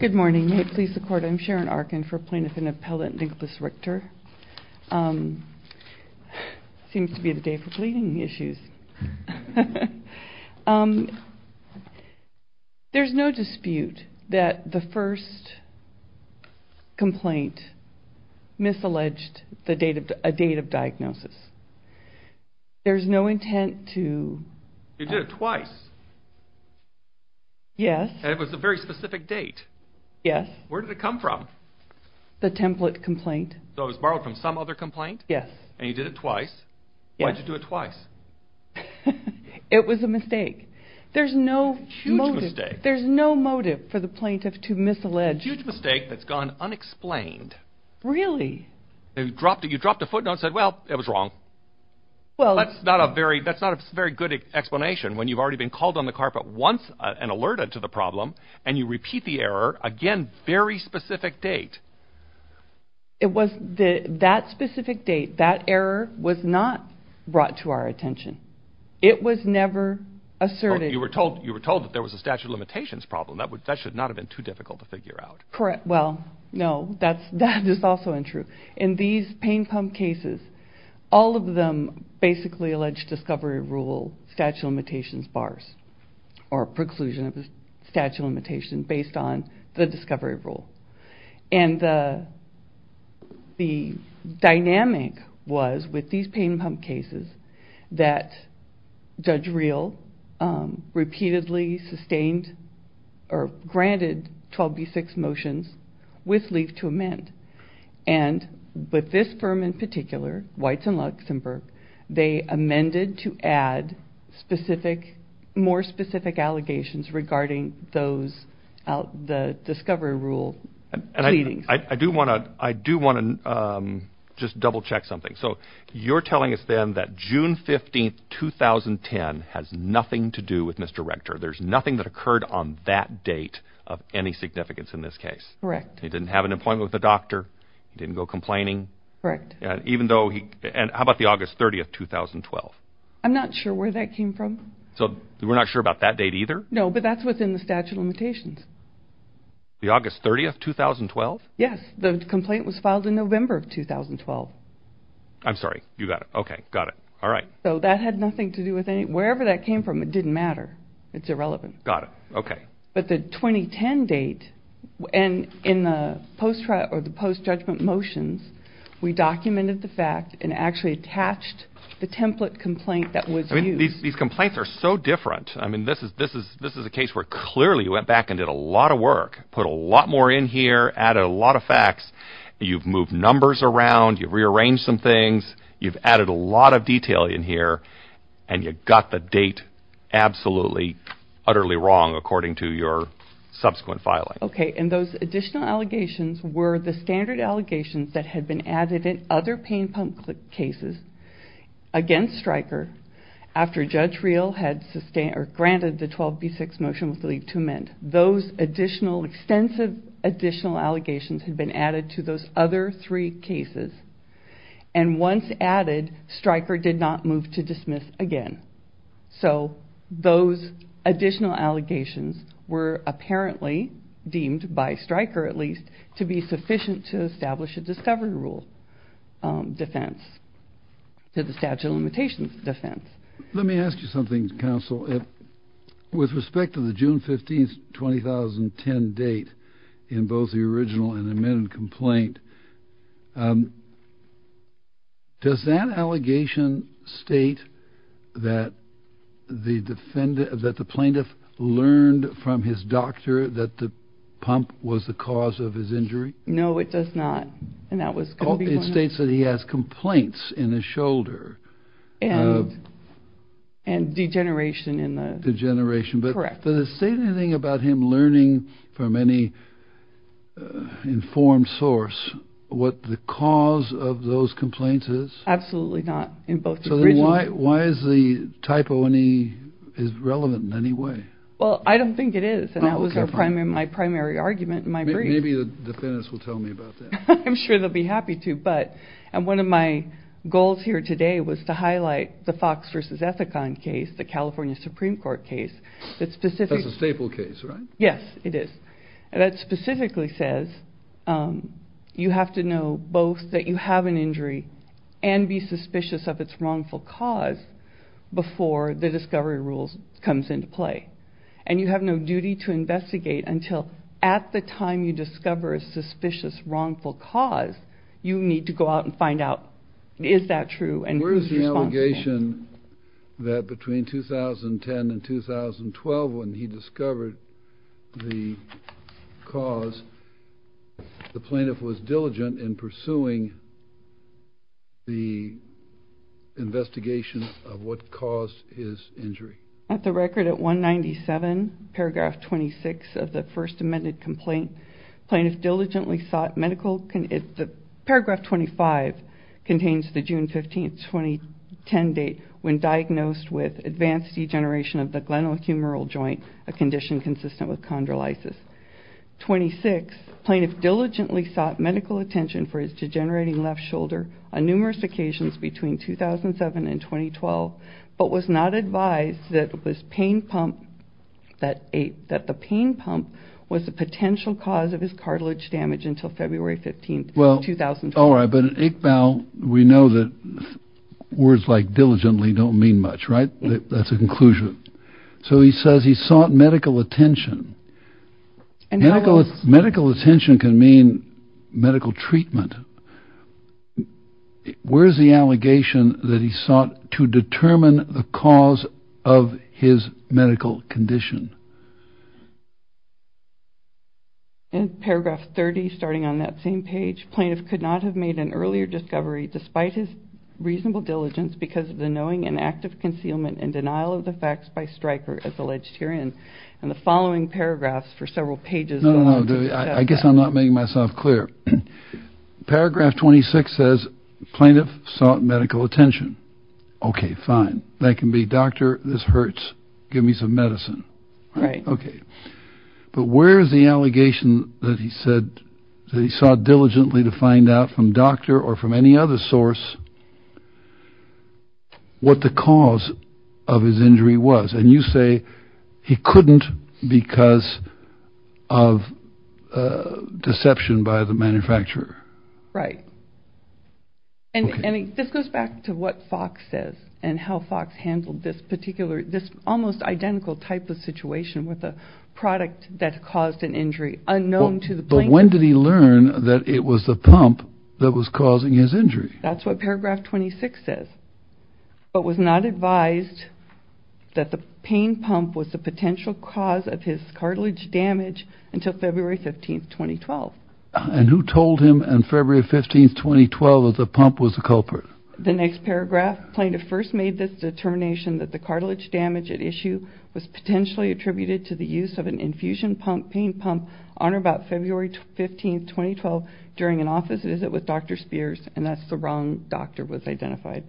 Good morning. May it please the Court, I'm Sharon Arkin for Plaintiff and Appellant Nicholas Rector. Seems to be the day for bleeding issues. There's no dispute that the first complaint misalleged a date of diagnosis. There's no intent to... You did it twice. Yes. And it was a very specific date. Yes. Where did it come from? The template complaint. So it was borrowed from some other complaint? Yes. And you did it twice. Yes. Why'd you do it twice? It was a mistake. There's no motive. Huge mistake. There's no motive for the plaintiff to misallege. Huge mistake that's gone unexplained. Really? You dropped a footnote and said, well, it was wrong. That's not a very good explanation when you've already been called on the carpet once and alerted to the problem, and you repeat the error. Again, very specific date. It was that specific date. That error was not brought to our attention. It was never asserted. You were told that there was a statute of limitations problem. That should not have been too difficult to figure out. Correct. Well, no, that is also untrue. In these pain pump cases, all of them basically alleged discovery rule statute of limitations bars or preclusion of the statute of limitations based on the discovery rule. And the dynamic was, with these pain pump cases, that Judge Real repeatedly sustained or granted 12b6 motions with leave to amend. And with this firm in particular, Weitz and Luxenberg, they amended to add more specific allegations regarding the discovery rule I do want to just double check something. So you're telling us then that June 15th, 2010 has nothing to do with Mr. Rector. There's nothing that occurred on that date of any significance in this case. Correct. He didn't have an appointment with a doctor. He didn't go complaining. Correct. Even though he and how about the August 30th, 2012? I'm not sure where that came from. So we're not sure about that date either? No, but that's within the statute of limitations. The August 30th, 2012? Yes. The complaint was filed in November of 2012. I'm sorry. You got it. Okay. Got it. All right. So that had nothing to do with any, wherever that came from, it didn't matter. It's irrelevant. Got it. Okay. But the 2010 date and in the post trial or the post judgment motions, we documented the fact and actually attached the template complaint that was used. I mean, these complaints are so different. I mean, this is a case where clearly you went back and did a lot of work, put a lot more in here, added a lot of facts. You've moved numbers around. You've rearranged some things. You've added a lot of detail in here. And you got the date absolutely, utterly wrong, according to your subsequent filing. Okay. And those additional allegations were the standard allegations that had been added in other pain pump cases against Stryker after Judge Reel had granted the 12B6 motion with the leave to amend. Those additional, extensive additional allegations had been added to those other three cases. And once added, Stryker did not move to dismiss again. So those additional allegations were apparently deemed by Stryker, at least, to be sufficient to establish a discovery rule defense to the statute of limitations defense. Let me ask you something, Counsel. With respect to the June 15th, 2010 date in both the original and amended complaint, does that allegation state that the defendant, that the plaintiff learned from his doctor that the pump was the cause of his injury? No, it does not. And that was. Oh, it states that he has complaints in his shoulder. And degeneration in the. Degeneration. Correct. Does it state anything about him learning from any informed source what the cause of those complaints is? Absolutely not in both the original. Why is the typo relevant in any way? Well, I don't think it is. And that was my primary argument in my brief. Maybe the defendants will tell me about that. I'm sure they'll be happy to. But one of my goals here today was to highlight the Fox versus Ethicon case, the California Supreme Court case. That's a staple case, right? Yes, it is. And that specifically says you have to know both that you have an injury and be suspicious of its wrongful cause before the discovery rules comes into play. And you have no duty to investigate until at the time you discover a suspicious wrongful cause, you need to go out and find out, is that true? And where is the allegation that between 2010 and 2012 when he discovered the cause, the plaintiff was diligent in pursuing the investigation of what caused his injury? At the record at 197 paragraph 26 of the first amended complaint, paragraph 25 contains the June 15, 2010 date when diagnosed with advanced degeneration of the glenohumeral joint, a condition consistent with chondrolysis. Twenty-six, plaintiff diligently sought medical attention for his degenerating left shoulder on numerous occasions between 2007 and 2012, but was not advised that it was pain pump that that the pain pump was a potential cause of his cartilage damage until February 15, 2012. All right. But now we know that words like diligently don't mean much, right? That's a conclusion. So he says he sought medical attention and medical medical attention can mean medical treatment. Where is the allegation that he sought to determine the cause of his medical condition? In paragraph 30, starting on that same page, plaintiff could not have made an earlier discovery, despite his reasonable diligence because of the knowing and active concealment and denial of the facts by Stryker, and the following paragraphs for several pages. I guess I'm not making myself clear. Paragraph 26 says plaintiff sought medical attention. OK, fine. That can be doctor. This hurts. Give me some medicine. Right. OK. But where is the allegation that he said that he sought diligently to find out from doctor or from any other source what the cause of his injury was? And you say he couldn't because of deception by the manufacturer. Right. And this goes back to what Fox says and how Fox handled this particular, this almost identical type of situation with a product that caused an injury unknown to the. But when did he learn that it was the pump that was causing his injury? That's what paragraph 26 says, but was not advised that the pain pump was the potential cause of his cartilage damage until February 15th, 2012. And who told him on February 15th, 2012, that the pump was the culprit? The next paragraph plaintiff first made this determination that the cartilage damage at issue was potentially attributed to the use of an infusion pump, pain pump on or about February 15th, 2012, during an office visit with Dr. Spears. And that's the wrong doctor was identified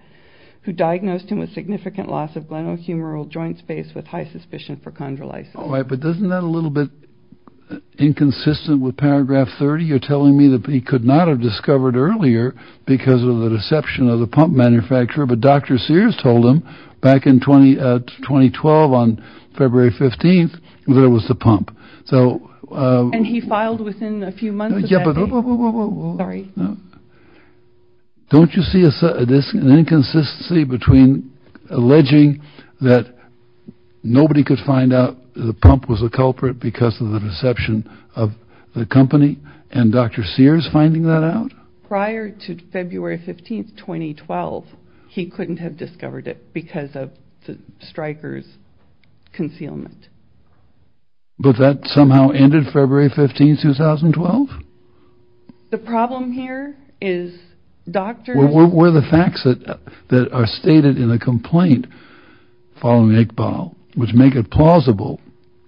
who diagnosed him with significant loss of glenohumeral joint space with high suspicion for chondrolysis. All right. But doesn't that a little bit inconsistent with paragraph 30? You're telling me that he could not have discovered earlier because of the deception of the pump manufacturer. But Dr. Sears told him back in 20 2012, on February 15th, there was the pump. So and he filed within a few months. Sorry. Don't you see this inconsistency between alleging that nobody could find out the pump was a culprit because of the deception of the company? And Dr. Sears finding that out prior to February 15th, 2012, he couldn't have discovered it because of the strikers concealment. But that somehow ended February 15th, 2012. The problem here is Dr. What were the facts that are stated in a complaint following Iqbal, which make it plausible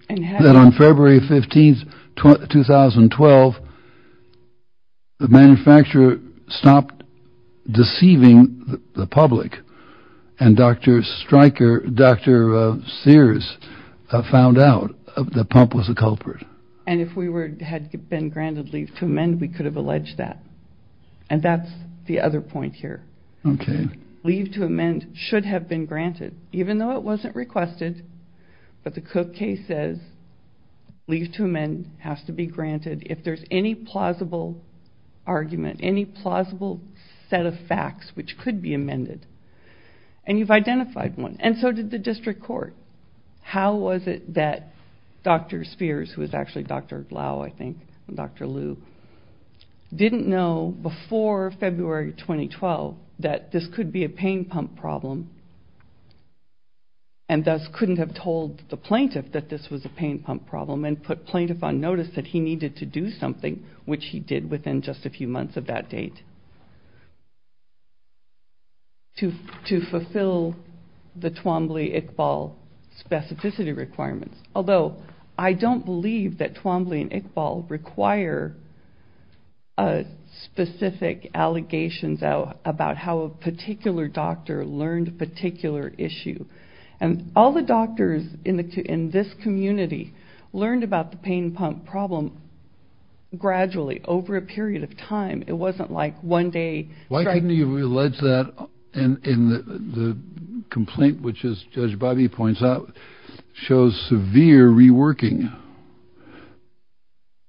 that on February 15th, 2012. The manufacturer stopped deceiving the public and Dr. Striker, Dr. Sears found out the pump was a culprit. And if we were had been granted leave to amend, we could have alleged that. And that's the other point here. Leave to amend should have been granted, even though it wasn't requested. But the Cook case says leave to amend has to be granted if there's any plausible argument, any plausible set of facts which could be amended. And you've identified one. And so did the district court. How was it that Dr. Spears, who is actually Dr. Glau, I think, and Dr. that this could be a pain pump problem. And thus couldn't have told the plaintiff that this was a pain pump problem and put plaintiff on notice that he needed to do something, which he did within just a few months of that date. To fulfill the Twombly-Iqbal specificity requirements. Although I don't believe that Twombly and Iqbal require specific allegations about how a particular doctor learned a particular issue. And all the doctors in this community learned about the pain pump problem gradually over a period of time. It wasn't like one day. Why didn't you allege that? And the complaint, which is, Judge Bobby points out, shows severe reworking.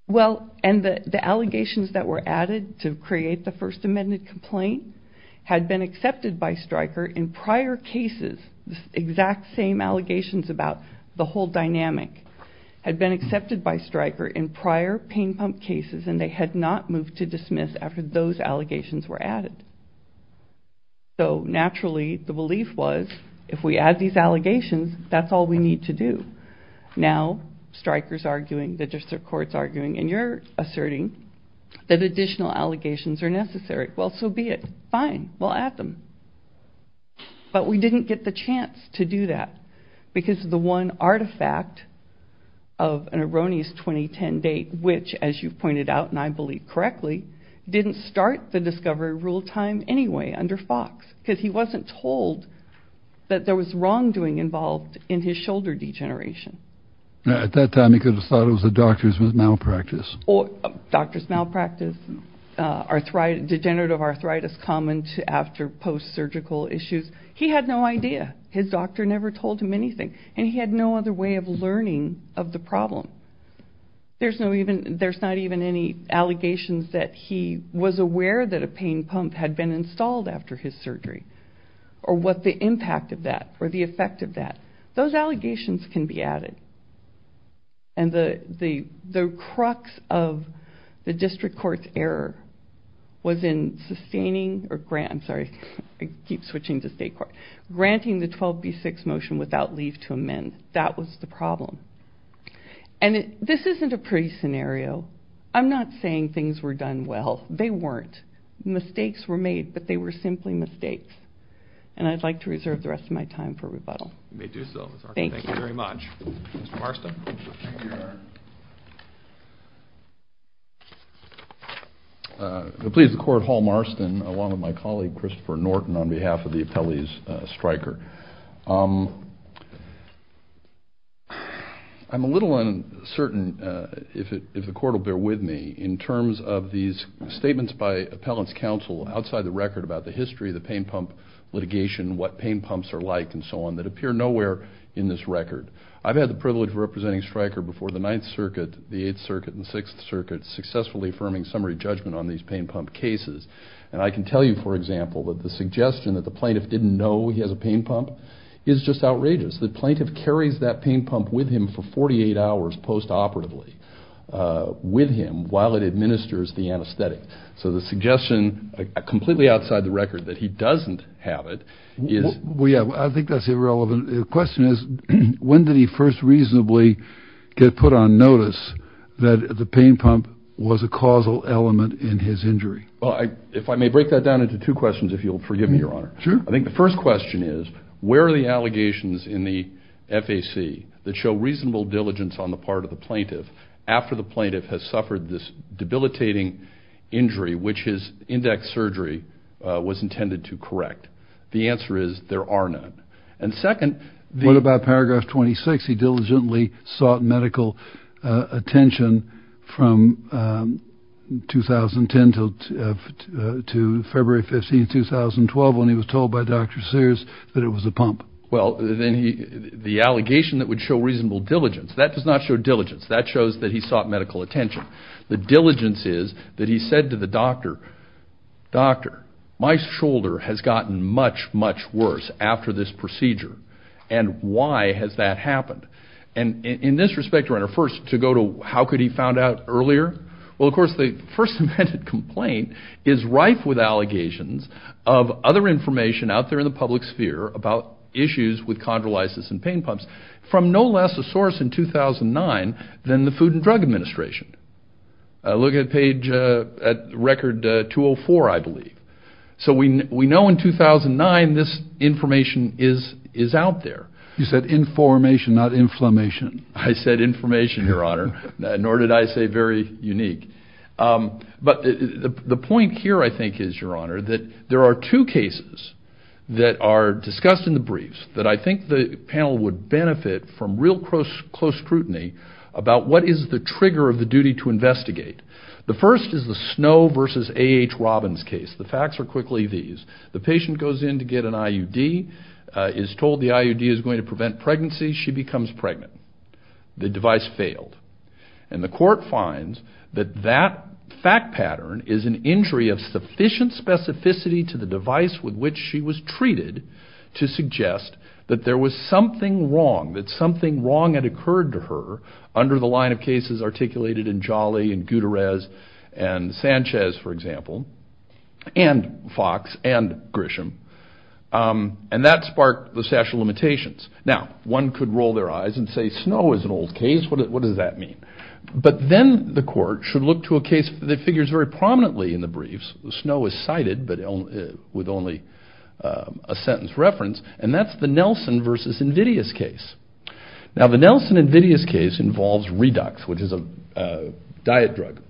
Well, and the allegations that were added to create the First Amendment complaint had been accepted by Stryker in prior cases. The exact same allegations about the whole dynamic had been accepted by Stryker in prior pain pump cases and they had not moved to dismiss after those allegations were added. So, naturally, the belief was, if we add these allegations, that's all we need to do. Now, Stryker's arguing, the district court's arguing, and you're asserting that additional allegations are necessary. Well, so be it. Fine. We'll add them. But we didn't get the chance to do that because the one artifact of an erroneous 2010 date, which, as you've pointed out and I believe correctly, didn't start the discovery rule time anyway under Fox because he wasn't told that there was wrongdoing involved in his shoulder degeneration. At that time, he could have thought it was a doctor's malpractice. Doctor's malpractice, degenerative arthritis common after post-surgical issues. He had no idea. His doctor never told him anything. And he had no other way of learning of the problem. There's not even any allegations that he was aware that a pain pump had been installed after his surgery or what the impact of that or the effect of that. Those allegations can be added. And the crux of the district court's error was in sustaining or granting the 12B6 motion without leave to amend. That was the problem. And this isn't a pretty scenario. I'm not saying things were done well. They weren't. Mistakes were made, but they were simply mistakes. And I'd like to reserve the rest of my time for rebuttal. You may do so, Mr. Archuleta. Thank you very much. Mr. Marston. Please, the court, Hall Marston along with my colleague, Christopher Norton, on behalf of the appellees, Stryker. I'm a little uncertain if the court will bear with me in terms of these statements by appellants' counsel outside the record about the history of the pain pump litigation, what pain pumps are like, and so on, that appear nowhere in this record. I've had the privilege of representing Stryker before the Ninth Circuit, the Eighth Circuit, and the Sixth Circuit, successfully affirming summary judgment on these pain pump cases. And I can tell you, for example, that the suggestion that the plaintiff didn't know he has a pain pump is just outrageous. The plaintiff carries that pain pump with him for 48 hours post-operatively with him while it administers the anesthetic. So the suggestion, completely outside the record, that he doesn't have it is – Well, yeah, I think that's irrelevant. The question is when did he first reasonably get put on notice that the pain pump was a causal element in his injury? Well, if I may break that down into two questions, if you'll forgive me, Your Honor. Sure. I think the first question is where are the allegations in the FAC that show reasonable diligence on the part of the plaintiff after the plaintiff has suffered this debilitating injury, which his index surgery was intended to correct? The answer is there are none. And second – What about Paragraph 26, he diligently sought medical attention from 2010 to February 15, 2012, when he was told by Dr. Sears that it was a pump? Well, the allegation that would show reasonable diligence, that does not show diligence. That shows that he sought medical attention. The diligence is that he said to the doctor, Doctor, my shoulder has gotten much, much worse after this procedure, and why has that happened? And in this respect, Your Honor, first, to go to how could he have found out earlier? Well, of course, the first amended complaint is rife with allegations of other information out there in the public sphere about issues with chondrolysis and pain pumps. From no less a source in 2009 than the Food and Drug Administration. Look at page – record 204, I believe. So we know in 2009 this information is out there. You said information, not inflammation. I said information, Your Honor, nor did I say very unique. But the point here, I think, is, Your Honor, that there are two cases that are discussed in the briefs that I think the panel would benefit from real close scrutiny about what is the trigger of the duty to investigate. The first is the Snow v. A.H. Robbins case. The facts are quickly these. The patient goes in to get an IUD, is told the IUD is going to prevent pregnancy. She becomes pregnant. The device failed. And the court finds that that fact pattern is an injury of sufficient specificity to the device with which she was treated to suggest that there was something wrong, that something wrong had occurred to her under the line of cases articulated in Jolly and Gutierrez and Sanchez, for example, and Fox and Grisham. And that sparked the statute of limitations. Now, one could roll their eyes and say Snow is an old case. What does that mean? But then the court should look to a case that figures very prominently in the briefs. Snow is cited, but with only a sentence reference, and that's the Nelson v. Invidious case. Now, the Nelson-Invidious case involves Redux, which is a diet drug.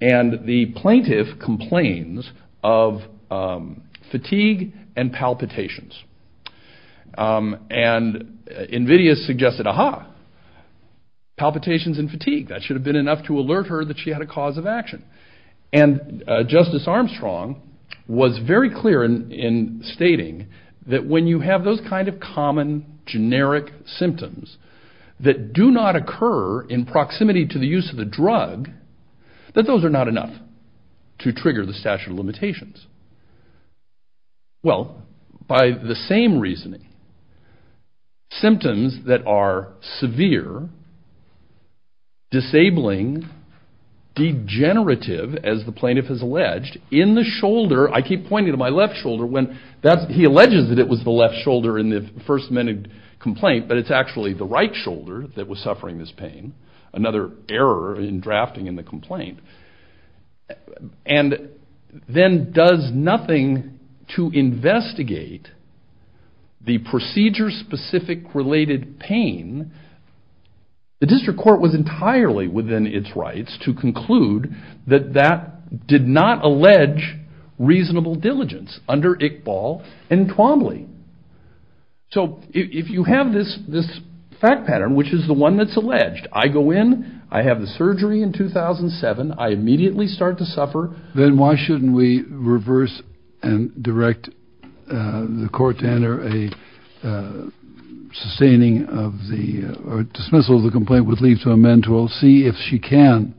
And the plaintiff complains of fatigue and palpitations. And Invidious suggested, aha, palpitations and fatigue. That should have been enough to alert her that she had a cause of action. And Justice Armstrong was very clear in stating that when you have those kind of common, generic symptoms that do not occur in proximity to the use of the drug, that those are not enough to trigger the statute of limitations. Well, by the same reasoning, symptoms that are severe, disabling, degenerative, as the plaintiff has alleged, in the shoulder, I keep pointing to my left shoulder, when he alleges that it was the left shoulder in the first minute complaint, but it's actually the right shoulder that was suffering this pain, another error in drafting in the complaint. And then does nothing to investigate the procedure-specific related pain. The district court was entirely within its rights to conclude that that did not allege reasonable diligence under Iqbal and Twombly. So if you have this fact pattern, which is the one that's alleged, I go in, I have the surgery in 2007, I immediately start to suffer. Then why shouldn't we reverse and direct the court to enter a sustaining of the, or dismissal of the complaint would lead to amend to all, see if she can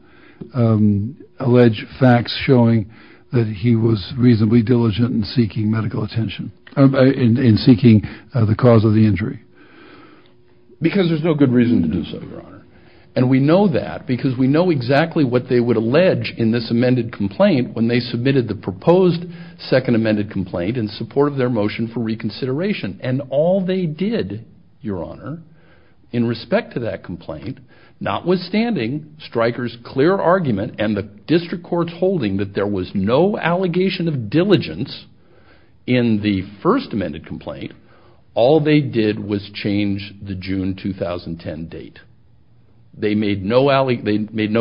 allege facts showing that he was reasonably diligent in seeking medical attention, in seeking the cause of the injury? Because there's no good reason to do so, Your Honor. And we know that because we know exactly what they would allege in this amended complaint when they submitted the proposed second amended complaint in support of their motion for reconsideration. And all they did, Your Honor, in respect to that complaint, notwithstanding Stryker's clear argument and the district court's holding that there was no allegation of diligence in the first amended complaint, all they did was change the June 2010 date. They made no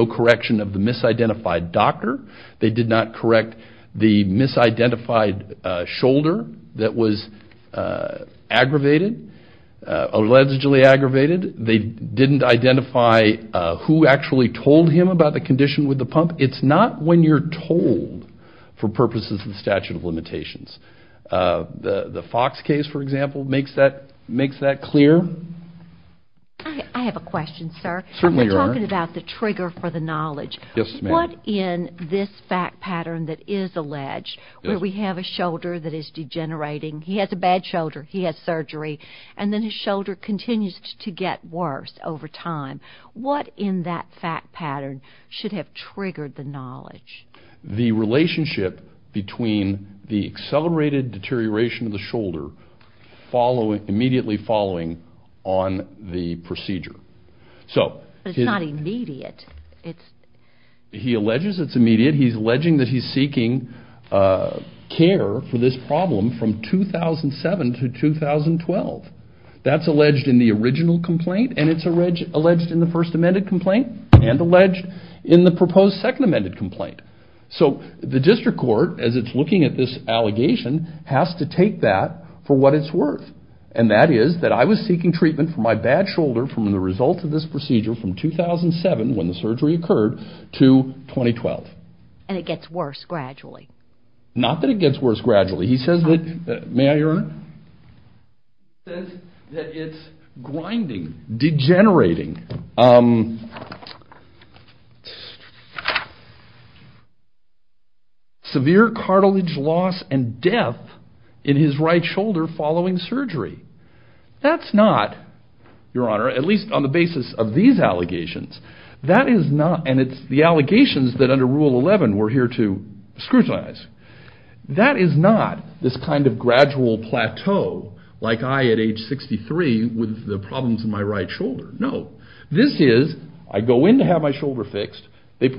correction of the misidentified doctor. They did not correct the misidentified shoulder that was aggravated, allegedly aggravated. They didn't identify who actually told him about the condition with the pump. It's not when you're told for purposes of the statute of limitations. The Fox case, for example, makes that clear? I have a question, sir. Certainly, Your Honor. We're talking about the trigger for the knowledge. Yes, ma'am. What in this fact pattern that is alleged, where we have a shoulder that is degenerating, he has a bad shoulder, he has surgery, and then his shoulder continues to get worse over time, what in that fact pattern should have triggered the knowledge? The relationship between the accelerated deterioration of the shoulder immediately following on the procedure. But it's not immediate. He alleges it's immediate. He's alleging that he's seeking care for this problem from 2007 to 2012. That's alleged in the original complaint, and it's alleged in the first amended complaint, and alleged in the proposed second amended complaint. So the district court, as it's looking at this allegation, has to take that for what it's worth. And that is that I was seeking treatment for my bad shoulder from the result of this procedure from 2007, when the surgery occurred, to 2012. And it gets worse gradually. May I, Your Honor? It says that it's grinding, degenerating. Severe cartilage loss and death in his right shoulder following surgery. That's not, Your Honor, at least on the basis of these allegations, that is not, and it's the allegations that under Rule 11 we're here to scrutinize, that is not this kind of gradual plateau like I, at age 63, with the problems in my right shoulder. No. This is, I go in to have my shoulder fixed, they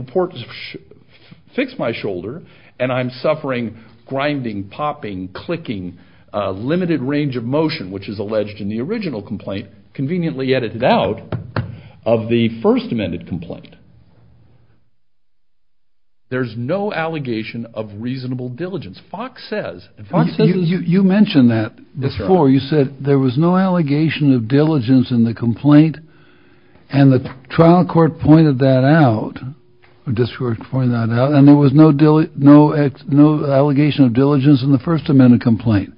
fix my shoulder, and I'm suffering grinding, popping, clicking, limited range of motion, which is alleged in the original complaint, conveniently edited out of the first amended complaint. There's no allegation of reasonable diligence. Fox says, and Fox says this. You mentioned that before. You said there was no allegation of diligence in the complaint, and the trial court pointed that out, the district court pointed that out, and there was no allegation of diligence in the first amended complaint.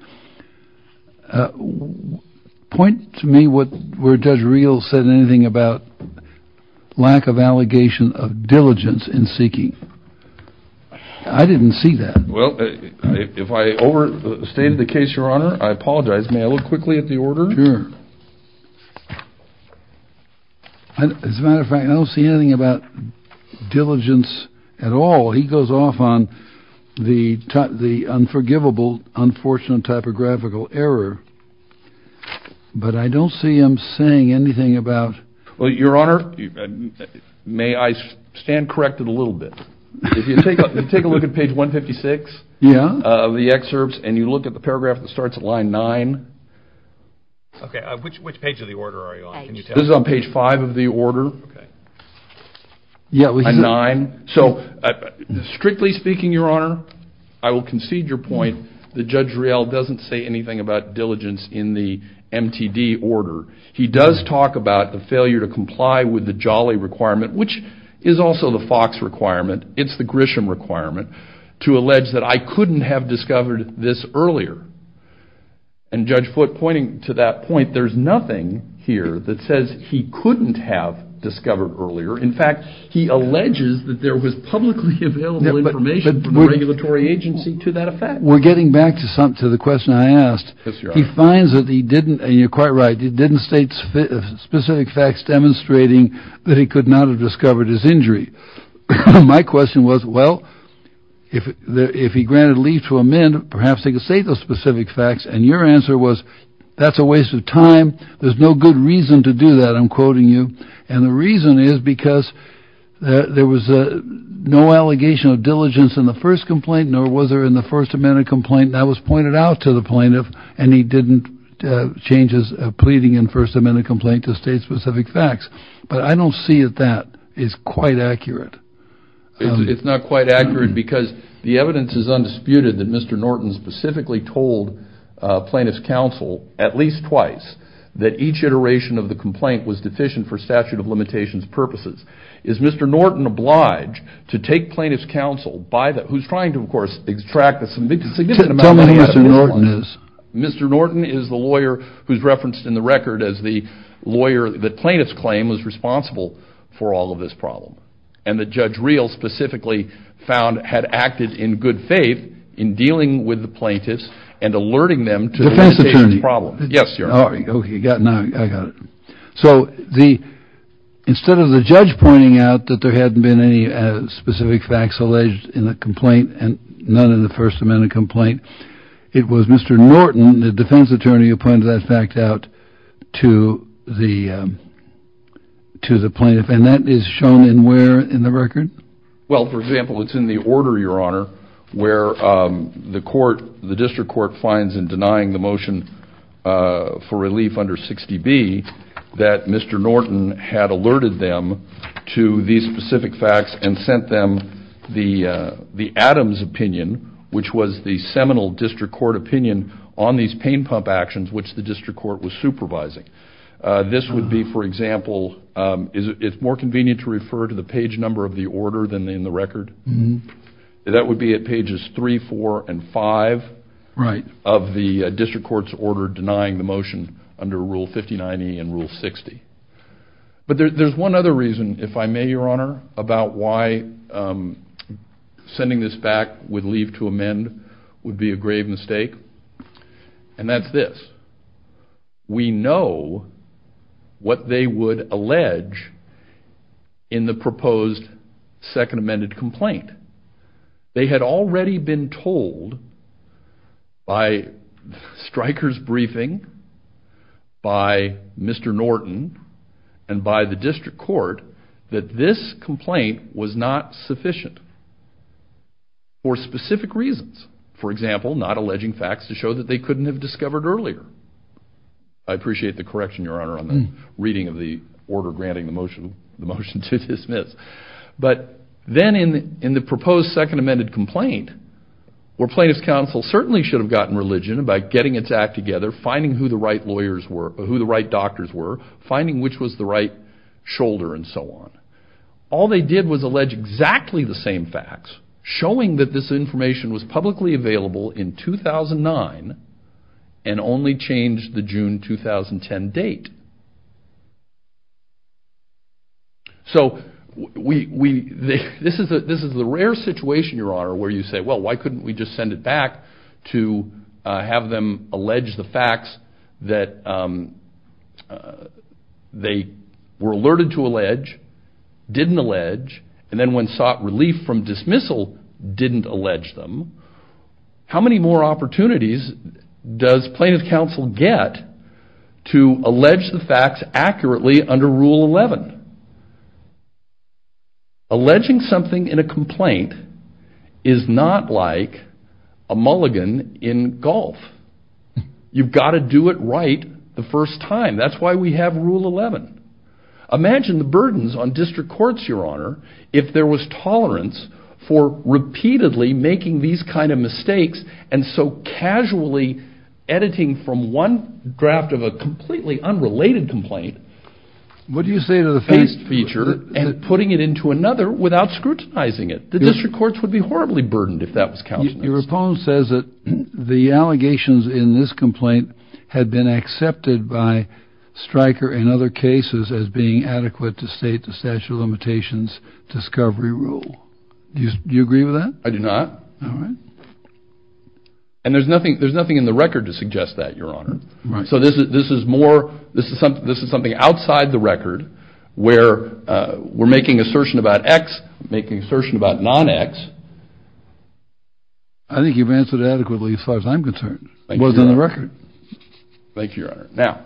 Point to me where Judge Reel said anything about lack of allegation of diligence in seeking. I didn't see that. Well, if I overstated the case, Your Honor, I apologize. May I look quickly at the order? Sure. As a matter of fact, I don't see anything about diligence at all. He goes off on the unforgivable, unfortunate typographical error, but I don't see him saying anything about. Well, Your Honor, may I stand corrected a little bit? If you take a look at page 156 of the excerpts, and you look at the paragraph that starts at line 9. Okay, which page of the order are you on? This is on page 5 of the order. Line 9. Strictly speaking, Your Honor, I will concede your point that Judge Reel doesn't say anything about diligence in the MTD order. He does talk about the failure to comply with the Jolly requirement, which is also the Fox requirement. It's the Grisham requirement to allege that I couldn't have discovered this earlier. And Judge Foote pointing to that point, there's nothing here that says he couldn't have discovered earlier. In fact, he alleges that there was publicly available information from the regulatory agency to that effect. We're getting back to the question I asked. He finds that he didn't, and you're quite right, he didn't state specific facts demonstrating that he could not have discovered his injury. My question was, well, if he granted leave to amend, perhaps he could state those specific facts. And your answer was, that's a waste of time. There's no good reason to do that, I'm quoting you. And the reason is because there was no allegation of diligence in the first complaint, nor was there in the first amendment complaint. That was pointed out to the plaintiff, and he didn't change his pleading in first amendment complaint to state specific facts. But I don't see that that is quite accurate. It's not quite accurate because the evidence is undisputed that Mr. Norton specifically told plaintiff's counsel at least twice that each iteration of the complaint was deficient for statute of limitations purposes. Is Mr. Norton obliged to take plaintiff's counsel by the, who's trying to, of course, extract a significant amount of evidence. Tell me who Mr. Norton is. Mr. Norton is the lawyer who's referenced in the record as the lawyer that plaintiff's claim was responsible for all of this problem. And that Judge Reel specifically found had acted in good faith in dealing with the plaintiffs and alerting them to the problem. Defense attorney. Yes, Your Honor. Okay, I got it. So instead of the judge pointing out that there hadn't been any specific facts alleged in the complaint and none in the first amendment complaint, it was Mr. Norton, the defense attorney, who pointed that fact out to the plaintiff. And that is shown in where in the record? Well, for example, it's in the order, Your Honor, where the court, the district court, finds in denying the motion for relief under 60B that Mr. Norton had alerted them to these specific facts and sent them the Adams opinion, which was the seminal district court opinion, on these pain pump actions which the district court was supervising. This would be, for example, it's more convenient to refer to the page number of the order than in the record. That would be at pages 3, 4, and 5 of the district court's order denying the motion under Rule 59E and Rule 60. But there's one other reason, if I may, Your Honor, about why sending this back with leave to amend would be a grave mistake, and that's this. We know what they would allege in the proposed second amended complaint. They had already been told by Stryker's briefing, by Mr. Norton, and by the district court, that this complaint was not sufficient for specific reasons. For example, not alleging facts to show that they couldn't have discovered earlier. I appreciate the correction, Your Honor, on the reading of the order granting the motion to dismiss. But then in the proposed second amended complaint, where plaintiff's counsel certainly should have gotten religion about getting its act together, finding who the right doctors were, finding which was the right shoulder, and so on. All they did was allege exactly the same facts, showing that this information was publicly available in 2009 and only changed the June 2010 date. So this is the rare situation, Your Honor, where you say, well, why couldn't we just send it back to have them allege the facts that they were alerted to allege, didn't allege, and then when sought relief from dismissal, didn't allege them. How many more opportunities does plaintiff's counsel get to allege the facts accurately under Rule 11? Alleging something in a complaint is not like a mulligan in golf. You've got to do it right the first time. That's why we have Rule 11. If there was tolerance for repeatedly making these kind of mistakes, and so casually editing from one draft of a completely unrelated complaint, and putting it into another without scrutinizing it, the district courts would be horribly burdened if that was counted. Your opponent says that the allegations in this complaint had been accepted by Stryker and other cases as being adequate to state the statute of limitations discovery rule. Do you agree with that? I do not. All right. And there's nothing in the record to suggest that, Your Honor. Right. So this is something outside the record where we're making assertion about X, making assertion about non-X. I think you've answered it adequately as far as I'm concerned. It was in the record. Thank you, Your Honor. Now,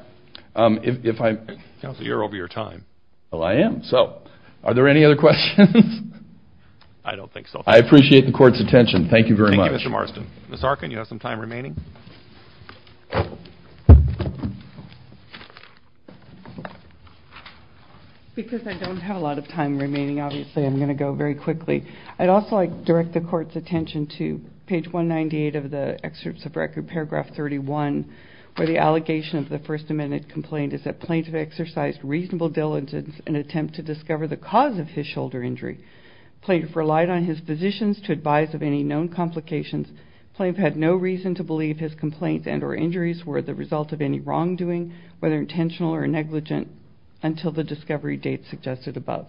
if I'm... Counselor, you're over your time. Well, I am. So are there any other questions? I don't think so. I appreciate the court's attention. Thank you very much. Thank you, Mr. Marston. Ms. Arkin, you have some time remaining? Because I don't have a lot of time remaining, obviously, I'm going to go very quickly. I'd also like to direct the court's attention to page 198 of the excerpts of record, paragraph 31, where the allegation of the First Amendment complaint is that Plaintiff exercised reasonable diligence in an attempt to discover the cause of his shoulder injury. Plaintiff relied on his physicians to advise of any known complications. Plaintiff had no reason to believe his complaints and or injuries were the result of any wrongdoing, whether intentional or negligent, until the discovery date suggested above.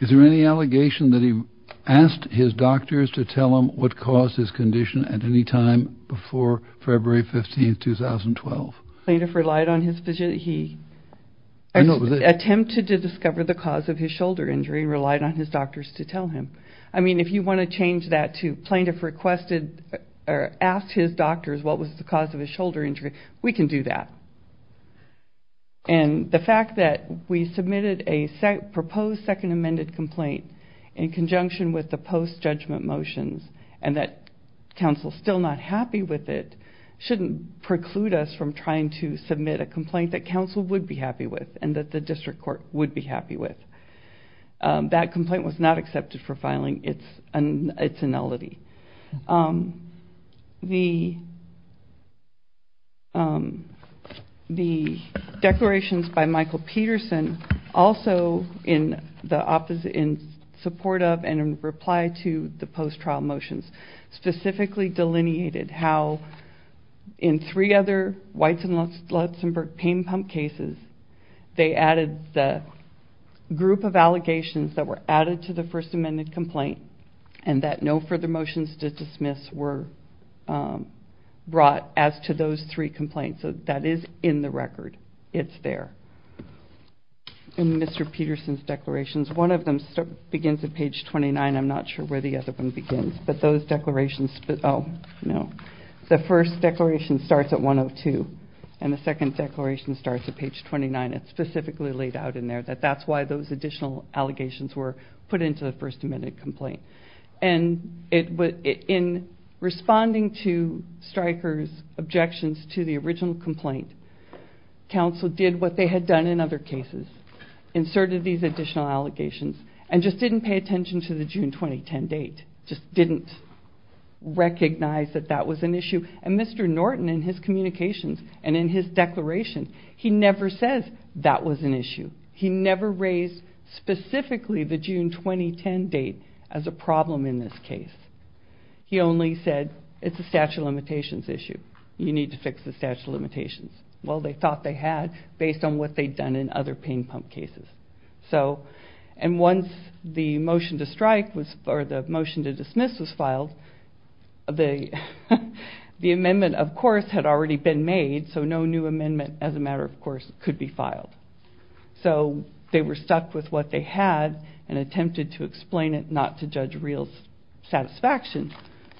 Is there any allegation that he asked his doctors to tell him what caused his condition at any time before February 15, 2012? Plaintiff relied on his physician. He attempted to discover the cause of his shoulder injury and relied on his doctors to tell him. I mean, if you want to change that to Plaintiff requested or asked his doctors what was the cause of his shoulder injury, we can do that. And the fact that we submitted a proposed Second Amended complaint in conjunction with the post-judgment motions and that counsel is still not happy with it shouldn't preclude us from trying to submit a complaint that counsel would be happy with and that the district court would be happy with. That complaint was not accepted for filing. It's a nullity. The declarations by Michael Peterson also in support of and in reply to the post-trial motions specifically delineated how in three other Whites and Lutzenberg pain pump cases they added the group of allegations that were added to the First Amended complaint and that no further motions to dismiss were brought as to those three complaints. So that is in the record. It's there. In Mr. Peterson's declarations, one of them begins at page 29. I'm not sure where the other one begins, but those declarations, oh, no. The first declaration starts at 102 and the second declaration starts at page 29. It's specifically laid out in there that that's why those additional allegations were put into the First Amended complaint. In responding to Stryker's objections to the original complaint, counsel did what they had done in other cases, inserted these additional allegations and just didn't pay attention to the June 2010 date, just didn't recognize that that was an issue. And Mr. Norton in his communications and in his declaration, he never says that was an issue. He never raised specifically the June 2010 date as a problem in this case. He only said it's a statute of limitations issue. You need to fix the statute of limitations. Well, they thought they had based on what they'd done in other pain pump cases. And once the motion to strike or the motion to dismiss was filed, the amendment, of course, had already been made, so no new amendment as a matter of course could be filed. So they were stuck with what they had and attempted to explain it, not to judge real satisfaction,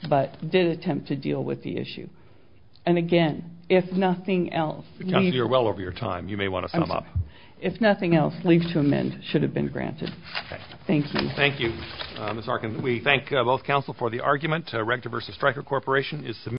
but did attempt to deal with the issue. And again, if nothing else... Counsel, you're well over your time. You may want to sum up. If nothing else, leave to amend should have been granted. Thank you. Thank you, Ms. Arkin. We thank both counsel for the argument. Rector versus Stryker Corporation is submitted.